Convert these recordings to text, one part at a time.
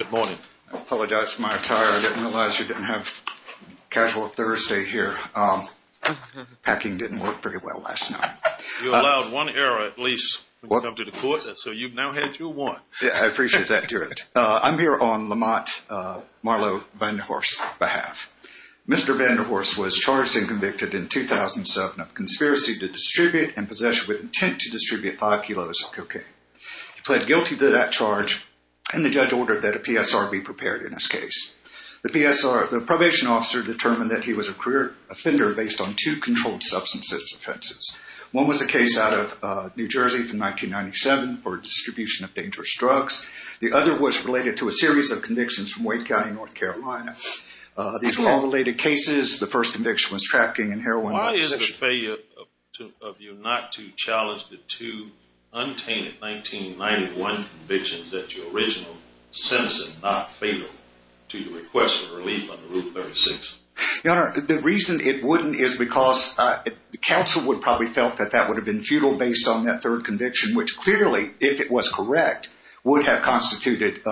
Good morning. I apologize for my attire. I didn't realize you didn't have casual Thursday here. Packing didn't work very well last night. You allowed one error at least when you come to the court, so you've now had two won. Yeah, I appreciate that. I'm here on Lamont Marlow Vanderhorst's behalf. Mr. Vanderhorst was charged and convicted in 2007 of conspiracy to distribute and possession with intent to distribute five kilos of cocaine. He pled guilty to that charge and the judge ordered that a PSR be prepared in his case. The PSR, the probation officer determined that he was a career offender based on two controlled substances offenses. One was a case out of New Jersey from 1997 for distribution of dangerous drugs. The other was related to a series of convictions from Wake County, North Carolina. These were all related cases. The first conviction was trafficking in heroin. Why is it a failure of you not to challenge the two untainted 1991 convictions that your original sentencing not fatal to your request for relief under Rule 36? The reason it wouldn't is because the council would probably felt that that would have been futile based on that third conviction, which clearly, if it was correct, would have constituted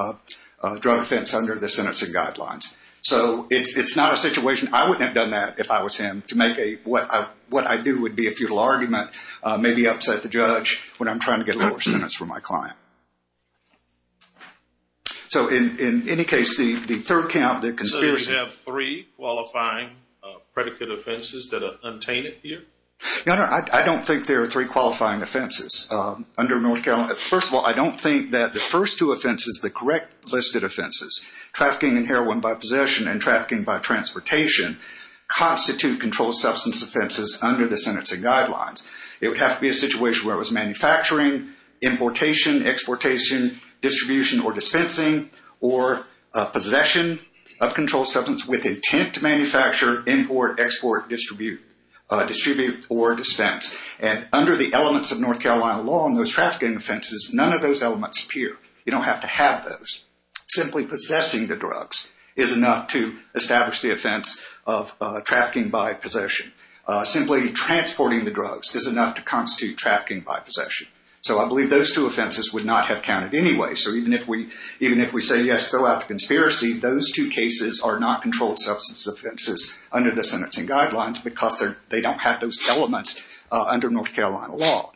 a drug offense under the sentencing guidelines. So it's not a situation, I wouldn't have done that if I was him to make a, what I do would be a futile argument, maybe upset the judge when I'm trying to get a lower sentence for my client. So in any case, the third count that conspiracy... So you have three qualifying predicate offenses that are untainted here? No, no, I don't think there are three qualifying offenses under North Carolina. First of all, I don't think that the first two offenses, the correct listed offenses, trafficking in heroin by possession and trafficking by transportation, constitute controlled substance offenses under the sentencing guidelines. It would have to be a situation where it was manufacturing, importation, exportation, distribution, or dispensing, or possession of controlled substance with intent to manufacture, import, export, distribute, or dispense. And under the elements of North Carolina law on those trafficking offenses, none of those elements appear. You don't have to have those. Simply possessing the drugs is enough to establish the offense of trafficking by possession. Simply transporting the drugs is enough to constitute trafficking by possession. So I believe those two cases are not controlled substance offenses under the sentencing guidelines because they don't have those elements under North Carolina law.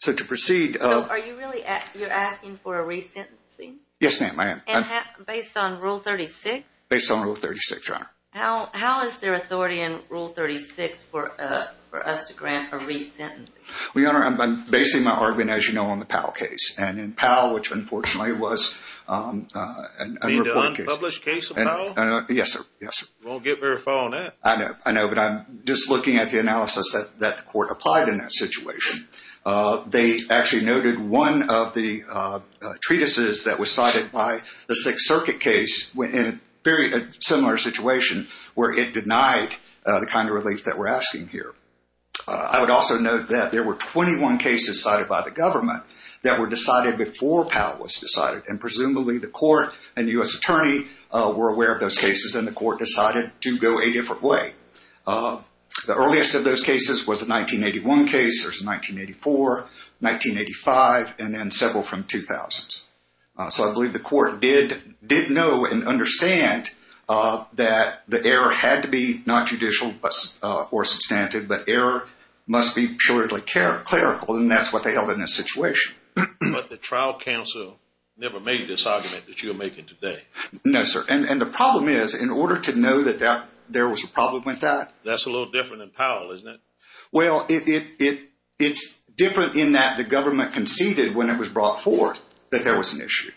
So to proceed... So are you really asking for a resentencing? Yes, ma'am, I am. Based on Rule 36? Based on Rule 36, Your Honor. How is there authority in Rule 36 for us to grant a resentencing? Well, Your Honor, I'm basing my argument, as you know, on the Powell case. And in Powell, which unfortunately was an unreported case. You mean the unpublished case of Powell? Yes, sir. Yes, sir. We won't get very far on that. I know. I know, but I'm just looking at the analysis that the court applied in that situation. They actually noted one of the treatises that was cited by the Sixth Circuit case in a very similar situation where it denied the kind of relief that we're talking about. And there were 21 cases cited by the government that were decided before Powell was decided. And presumably the court and U.S. attorney were aware of those cases and the court decided to go a different way. The earliest of those cases was the 1981 case. There's a 1984, 1985, and then several from 2000s. So I believe the court did know and understand that the error had to be not judicial or substantive, but error must be purely clerical. And that's what they held in this situation. But the trial counsel never made this argument that you're making today. No, sir. And the problem is, in order to know that there was a problem with that. That's a little different than Powell, isn't it? Well, it's different in that the government conceded when it was brought forth that there was an issue.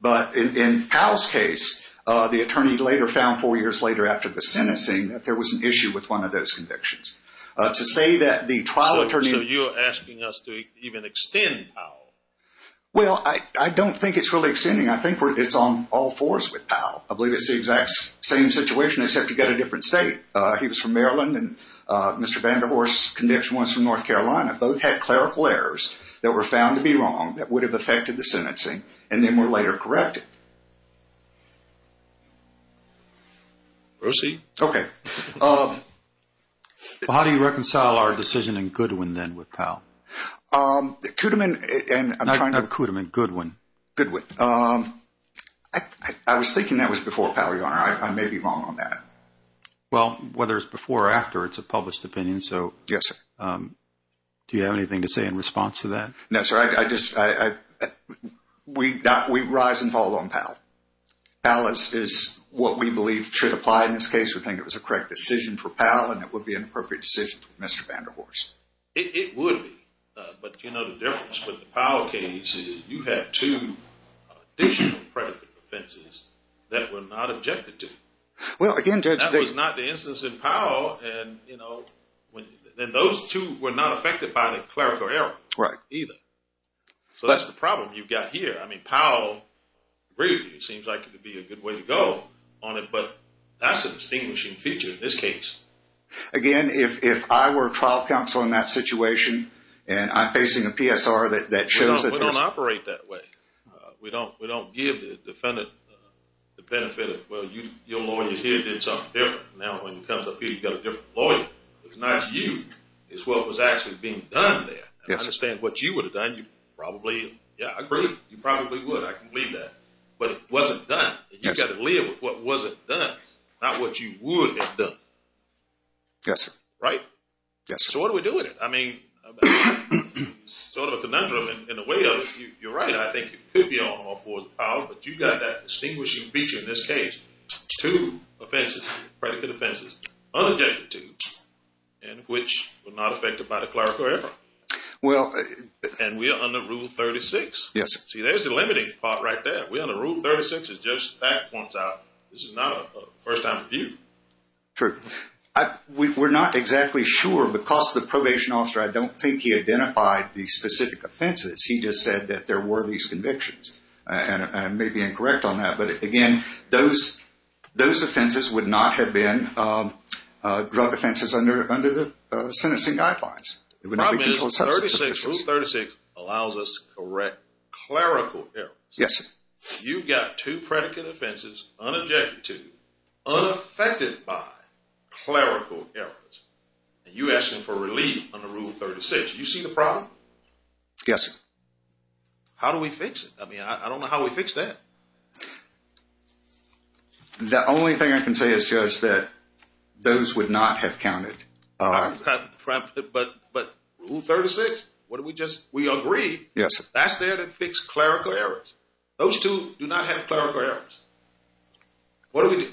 But in Powell's case, the attorney later found, four years later after the sentencing, that there was an issue with one of those convictions. To say that the trial attorney... So you're asking us to even extend Powell? Well, I don't think it's really extending. I think it's on all fours with Powell. I believe it's the exact same situation, except you've got a different state. He was from Maryland and Mr. Cummings from North Carolina. Both had clerical errors that were found to be wrong that would have affected the sentencing and then were later corrected. Proceed. Okay. How do you reconcile our decision in Goodwin then with Powell? Kudiman and... Not Kudiman, Goodwin. Goodwin. I was thinking that was before Powell, Your Honor. I may be wrong on that. Well, whether it's before or after, it's a published opinion. Yes, sir. Do you have anything to say in response to that? No, sir. We rise and fall on Powell. Powell is what we believe should apply in this case. We think it was a correct decision for Powell and it would be an appropriate decision for Mr. Vanderhorse. It would be. But you know the difference with the Powell case is you had two additional predicate offenses that were not affected by the clerical error. Right. So that's the problem you've got here. I mean, Powell seems like it would be a good way to go on it, but that's a distinguishing feature in this case. Again, if I were a trial counsel in that situation and I'm facing a PSR that shows that... We don't give the defendant the benefit of, well, your lawyer here did something different. Now, when it comes up here, you've got a different lawyer. It's not you. It's what was actually being done there. Yes, sir. I understand what you would have done. You probably... Yeah, I agree. You probably would. I can believe that. But it wasn't done. You've got to live with what wasn't done, not what you would have done. Yes, sir. Right? Yes, sir. So what do we do with it? I mean, sort of a conundrum in the way of, you're right, I think you could be on all fours with Powell, but you've got that distinguishing feature in this case. Two offenses, predicate offenses, unobjected to, and which were not affected by the clerical error. Well... And we are under Rule 36. Yes, sir. See, there's the limiting part right there. We're under Rule 36. It just back points out. This is not a first-time review. True. We're not exactly sure because the probation officer, I don't think he identified the specific offenses. He just said that there were these convictions. And I may be incorrect on that. But again, those offenses would not have been drug offenses under the sentencing guidelines. The problem is Rule 36 allows us to correct clerical errors. Yes, sir. You've got two predicate offenses, unobjected to, unaffected by, clerical errors. And you're asking for relief under Rule 36. You see the problem? Yes, sir. How do we fix it? I mean, I don't know how we fix that. The only thing I can say is, Judge, that those would not have counted. But Rule 36, what do we just, we agree. Yes, sir. That's there to fix clerical errors. Those two do not have clerical errors. What do we do?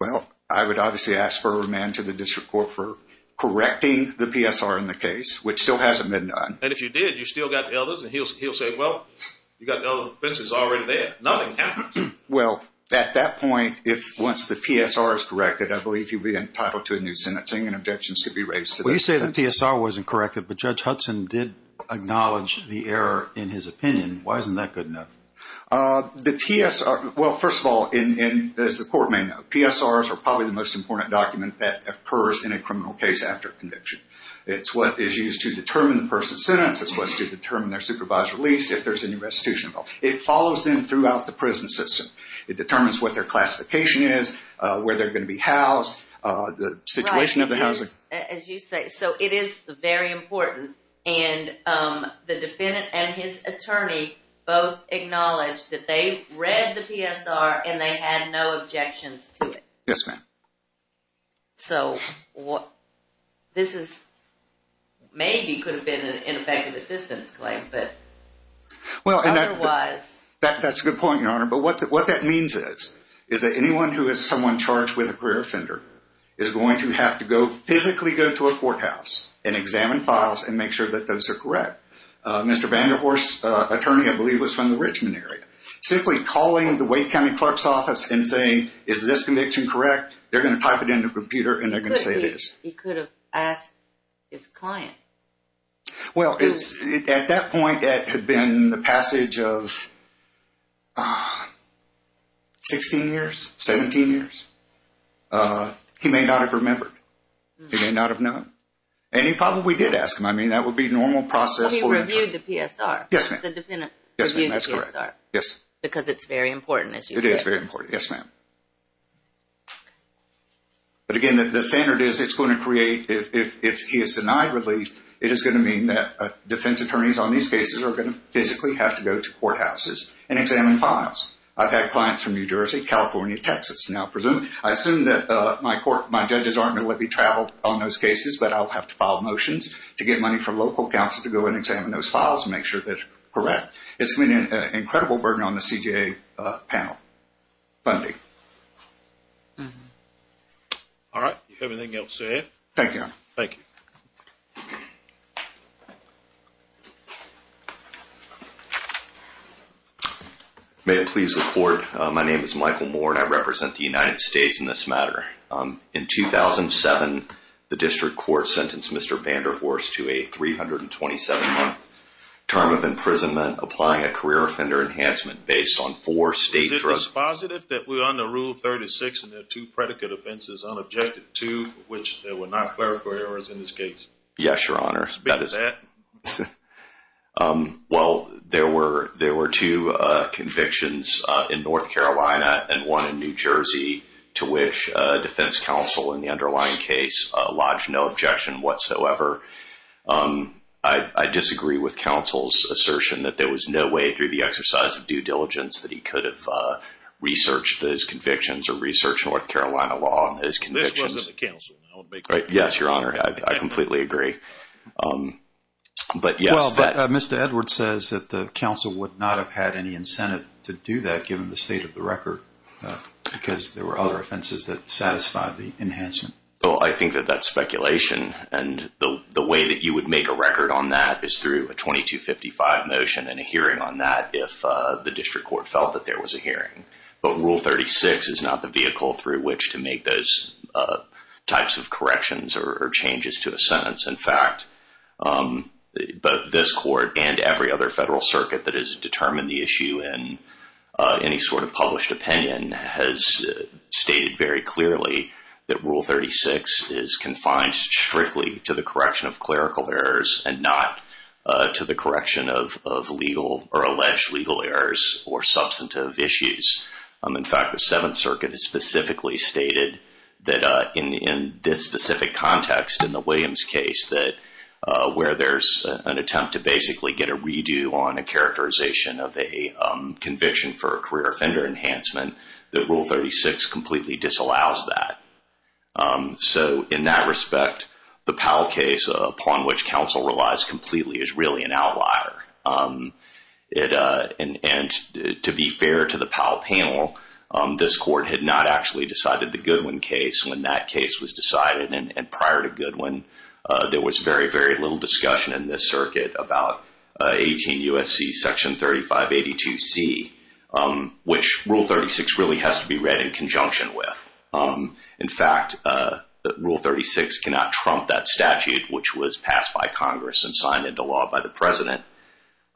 Well, I would obviously ask for a remand to the District Court for correcting the PSR in the case, which still hasn't been done. And if you did, you still got the others. And he'll say, well, you got the other offenses already there. Nothing counts. Well, at that point, if once the PSR is corrected, I believe you'd be entitled to a new sentencing and objections could be raised. Well, you say the PSR wasn't corrected, but Judge Hudson did acknowledge the error in his opinion. Why isn't that good enough? The PSR, well, first of all, as the court may know, PSRs are probably the most important document that occurs in a criminal case after conviction. It's what is used to determine the person's sentence. It's what's to determine their supervised release, if there's any restitution involved. It follows them throughout the prison system. It determines what their classification is, where they're going to be housed, the situation of the housing. As you say, so it is very important. And the defendant and his attorney both acknowledged that they read the PSR and they had no objections to it. Yes, ma'am. So what this is, maybe could have been an ineffective assistance claim, but otherwise, that's a good point, Your Honor. But what that means is, is that anyone who is someone charged with a career offender is going to have to go physically go to a courthouse and examine files and make sure that those are correct. Mr. Vanderhorst's attorney, I believe, was from the Richmond area. Simply calling the Wake County clerk's office and saying, is this conviction correct? They're going to type it into a computer and they're going to say it is. He could have asked his client. Well, it's at that point that had been the passage of 16 years, 17 years. He may not have remembered. He may not have known. And he probably did ask him. I mean, that would be normal process for an attorney. But he reviewed the PSR. Yes, ma'am. That's correct. Because it's very important, as you say. It is very important. Yes, ma'am. But again, the standard is it's going to create, if he is denied relief, it is going to mean that defense attorneys on these cases are going to physically have to go to courthouses and examine files. I've had clients from New Jersey, California, Texas. I assume that my court, my judges aren't going to let me travel on those cases, but I'll have to file motions to get money from local counsel to go and examine those files and make sure that it's correct. It's going to be an incredible burden on the CJA panel. Funding. All right. If you have anything else to add. Thank you, Your Honor. Thank you. May I please report? My name is Michael Moore, and I represent the United States in this matter. In 2007, the district court sentenced Mr. Vanderhorst to a 327-month term of imprisonment, applying a career offender enhancement based on four state drugs. Is it dispositive that we're under Rule 36 and there are two predicate offenses unobjected to, which there were not clerical errors in this case? Yes, Your Honor. Speak to that. Well, there were two convictions in North Carolina and one in New Jersey to which defense counsel in the underlying case lodged no objection whatsoever. I disagree with counsel's assertion that there was no way through the exercise of due diligence that he could have researched those convictions or researched North Carolina law on those convictions. This wasn't the counsel. Yes, Your Honor. I completely agree. Mr. Edwards says that the counsel would not have had any incentive to do that given the state of the record because there were other offenses that satisfied the enhancement. Well, I think that that's speculation. And the way that you would make a record on that is through a 2255 motion and a hearing on that if the district court felt that there was a hearing. But Rule 36 is not the vehicle through which to make those types of corrections or changes to a sentence. In fact, both this court and every other federal circuit that has determined the issue in any sort of published opinion has stated very clearly that Rule 36 is confined strictly to the correction of clerical errors and not to the correction of legal or alleged legal errors or substantive issues. In fact, the Seventh Circuit has specifically stated that in this specific context, in the Williams case, that where there's an attempt to basically get a redo on a characterization of a conviction for a career offender enhancement, that Rule 36 completely disallows that. So in that respect, the Powell case upon which counsel relies completely is really an outlier. And to be fair to the Powell panel, this court had not actually decided the Goodwin case when that case was decided. And prior to Goodwin, there was very, very little discussion in this circuit about 18 U.S.C. Section 3582C, which Rule 36 really has to be read in conjunction with. In fact, Rule 36 cannot trump that statute which was passed by Congress and signed into law by the President.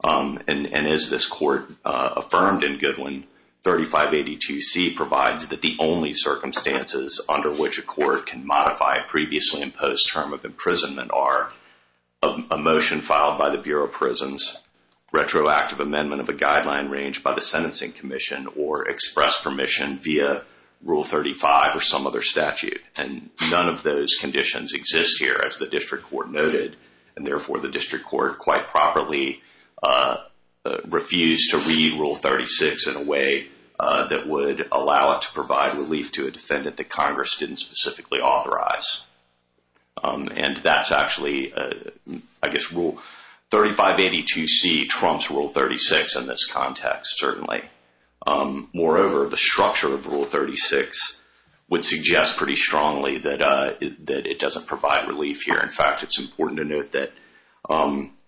And as this court affirmed in Goodwin, 3582C provides that the only circumstances under which a court can modify a previously imposed term of imprisonment are a motion filed by the Bureau of Prisons, retroactive amendment of a guideline range by the Sentencing Commission, or express permission via Rule 35 or some other statute. And none of those conditions exist here as the district court noted. And therefore, the district court quite properly refused to read Rule 36 in a way that would allow it to provide relief to a defendant that Congress didn't specifically authorize. And that's actually, I guess, Rule 3582C trumps Rule 36 in this context, certainly. Moreover, the structure of Rule 36 would suggest pretty strongly that it doesn't provide relief here. In fact, it's important to note that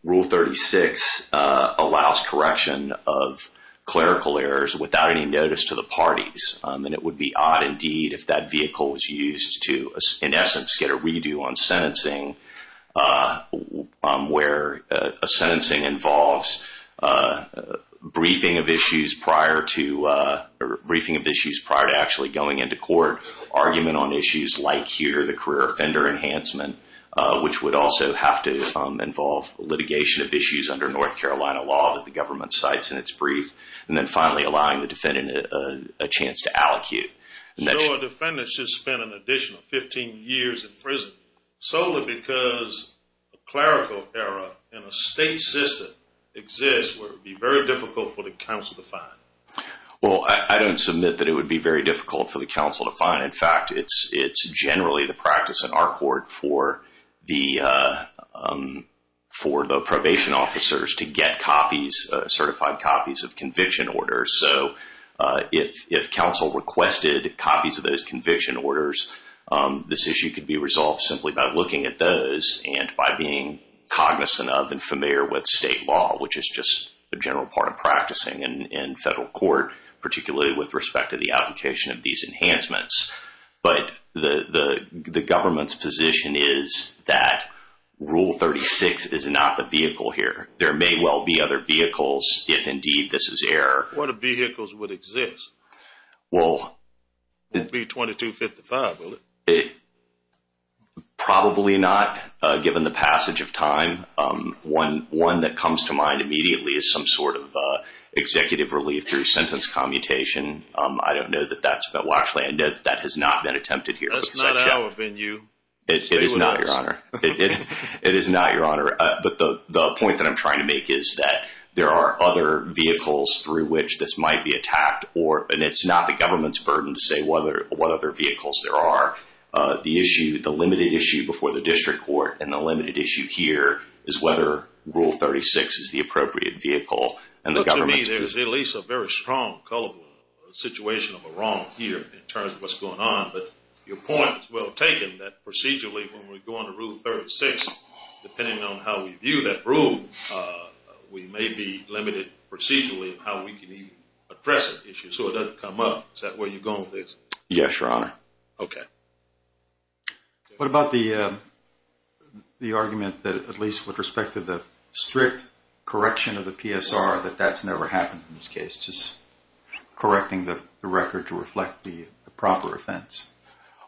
Rule 36 allows correction of clerical errors without any notice to the parties. And it would be odd indeed if that vehicle was used to, in essence, get a redo on sentencing where a sentencing involves briefing of issues prior to actually going into court. Argument on issues like here, the career offender enhancement, which would also have to involve litigation of issues under North Carolina law that the government cites in its brief. And then finally, allowing the defendant a chance to allocute. So a defendant should spend an additional 15 years in prison solely because a clerical error in a state system exists where it would be very difficult for the counsel to find? Well, I don't submit that it would be very difficult for the counsel to find. In fact, it's generally the practice in our court for the probation officers to get copies, certified copies of conviction orders. So if counsel requested copies of those conviction orders, this issue could be resolved simply by looking at those and by being cognizant of and familiar with state law, which is just a general part of practicing in federal court, particularly with respect to the application of these enhancements. But the government's position is that Rule 36 is not the vehicle here. There may well be other vehicles if indeed this is error. What vehicles would exist? Well... It would be 2255, would it? Probably not, given the passage of time. One that comes to mind immediately is some sort of executive relief through sentence commutation. I don't know that that's... Well, actually, I know that that has not been attempted here. That's not our venue. It is not, Your Honor. It is not, Your Honor. But the point that I'm trying to make is that there are other vehicles through which this might be attacked, and it's not the government's burden to say what other vehicles there are. The issue, the limited issue before the district court and the limited issue here is whether Rule 36 is the appropriate vehicle. And the government's... To me, there's at least a very strong, colorful situation of a wrong here in terms of what's going on. But your point is well taken that procedurally when we're going to Rule 36, depending on how we view that rule, we may be limited procedurally in how we can even address that issue. So it doesn't come up. Is that where you're going with this? Yes, Your Honor. Okay. What about the argument that at least with respect to the strict correction of the PSR, that that's never happened in this case, just correcting the record to reflect the proper offense?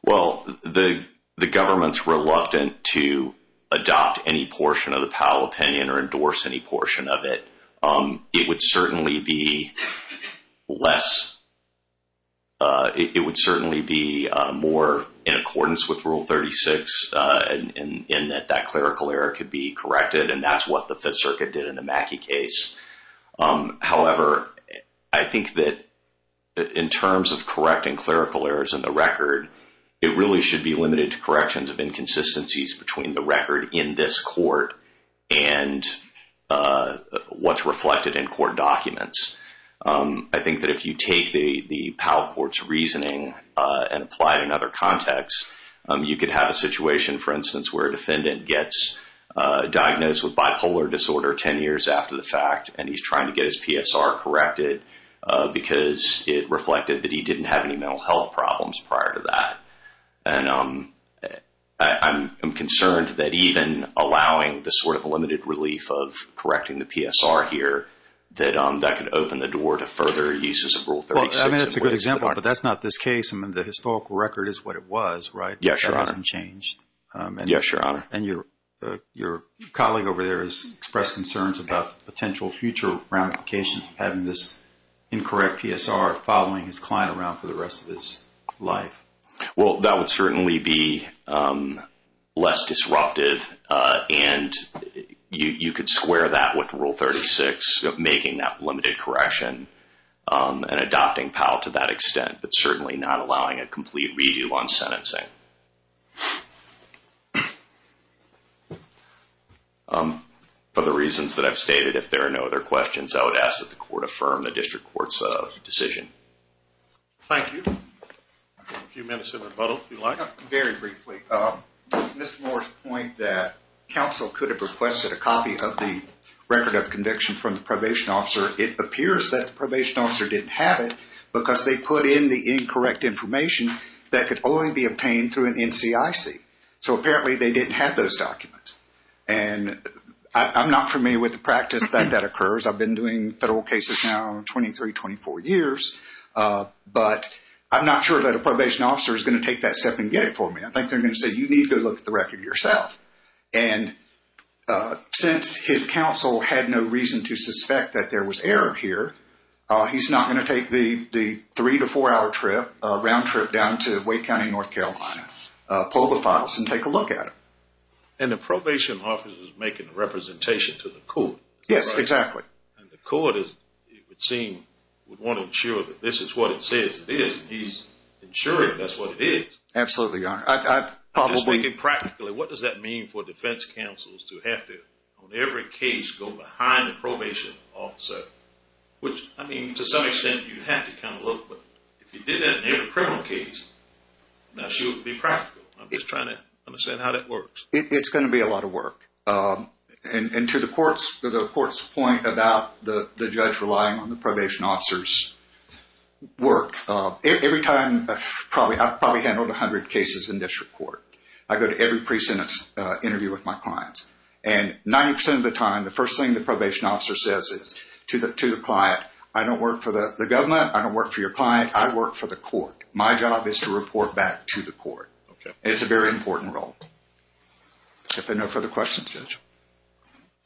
Well, the government's reluctant to adopt any portion of the Powell opinion or endorse any portion of it. It would certainly be less... It would certainly be more in accordance with Rule 36 in that that clerical error could be corrected, and that's what the Fifth Circuit did in the Mackey case. However, I think that in terms of correcting clerical errors in the record, it really should be limited to corrections of inconsistencies between the record in this court and what's reflected in court documents. I think that if you take the Powell Court's reasoning and apply it in other contexts, you could have a situation, for instance, where a defendant gets diagnosed with bipolar disorder 10 years after the fact, and he's trying to get his PSR corrected because it reflected that he didn't have any mental health problems prior to that. And I'm concerned that even allowing the sort of limited relief of correcting the PSR here, that that could open the door to further uses of Rule 36. I mean, that's a good example, but that's not this case. I mean, the historical record is what it was, right? Yes, Your Honor. That hasn't changed. Yes, Your Honor. And your colleague over there has expressed concerns about the potential future ramifications of having this incorrect PSR following his client around for the rest of his life. Well, that would certainly be less disruptive, and you could square that with Rule 36 making that limited correction and adopting Powell to that extent, but certainly not allowing a complete redo on sentencing. For the reasons that I've stated, if there are no other questions, I would ask that the Court affirm the District Court's decision. Thank you. A few minutes of rebuttal, if you like. Very briefly. Mr. Moore's point that counsel could have requested a copy of the record of conviction from the probation officer. It appears that the probation officer didn't have it because they put in the incorrect information that could only be obtained through an NCIC. So apparently they didn't have those documents. And I'm not familiar with the practice that that occurs. I've been doing federal cases now 23, 24 years, but I'm not sure that a probation officer is going to take that step and get it for me. I think they're going to say, you need to look at the record yourself. And since his counsel had no reason to suspect that there was error here, he's not going to take the three- to four-hour round trip down to Wake County, North Carolina, pull the files, and take a look at it. And the probation officer is making a representation to the Court. Yes, exactly. And the Court, it would seem, would want to ensure that this is what it says it is, and he's ensuring that's what it is. Absolutely, Your Honor. I'm just thinking practically. What does that mean for defense counsels to have to, on every case, go behind the probation officer? Which, I mean, to some extent you have to kind of look, but if you did that in every criminal case, that should be practical. I'm just trying to understand how that works. It's going to be a lot of work. And to the Court's point about the judge relying on the probation officer's work, every time, I've probably handled 100 cases in district court. I go to every pre-sentence interview with my clients. And 90% of the time, the first thing the probation officer says is to the client, I don't work for the government, I don't work for your client, I work for the Court. My job is to report back to the Court. Okay. It's a very important role. If there are no further questions, Judge.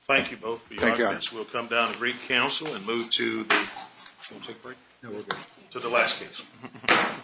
Thank you both for your comments. We'll come down to brief counsel and move to the last case. Thank you, Judge.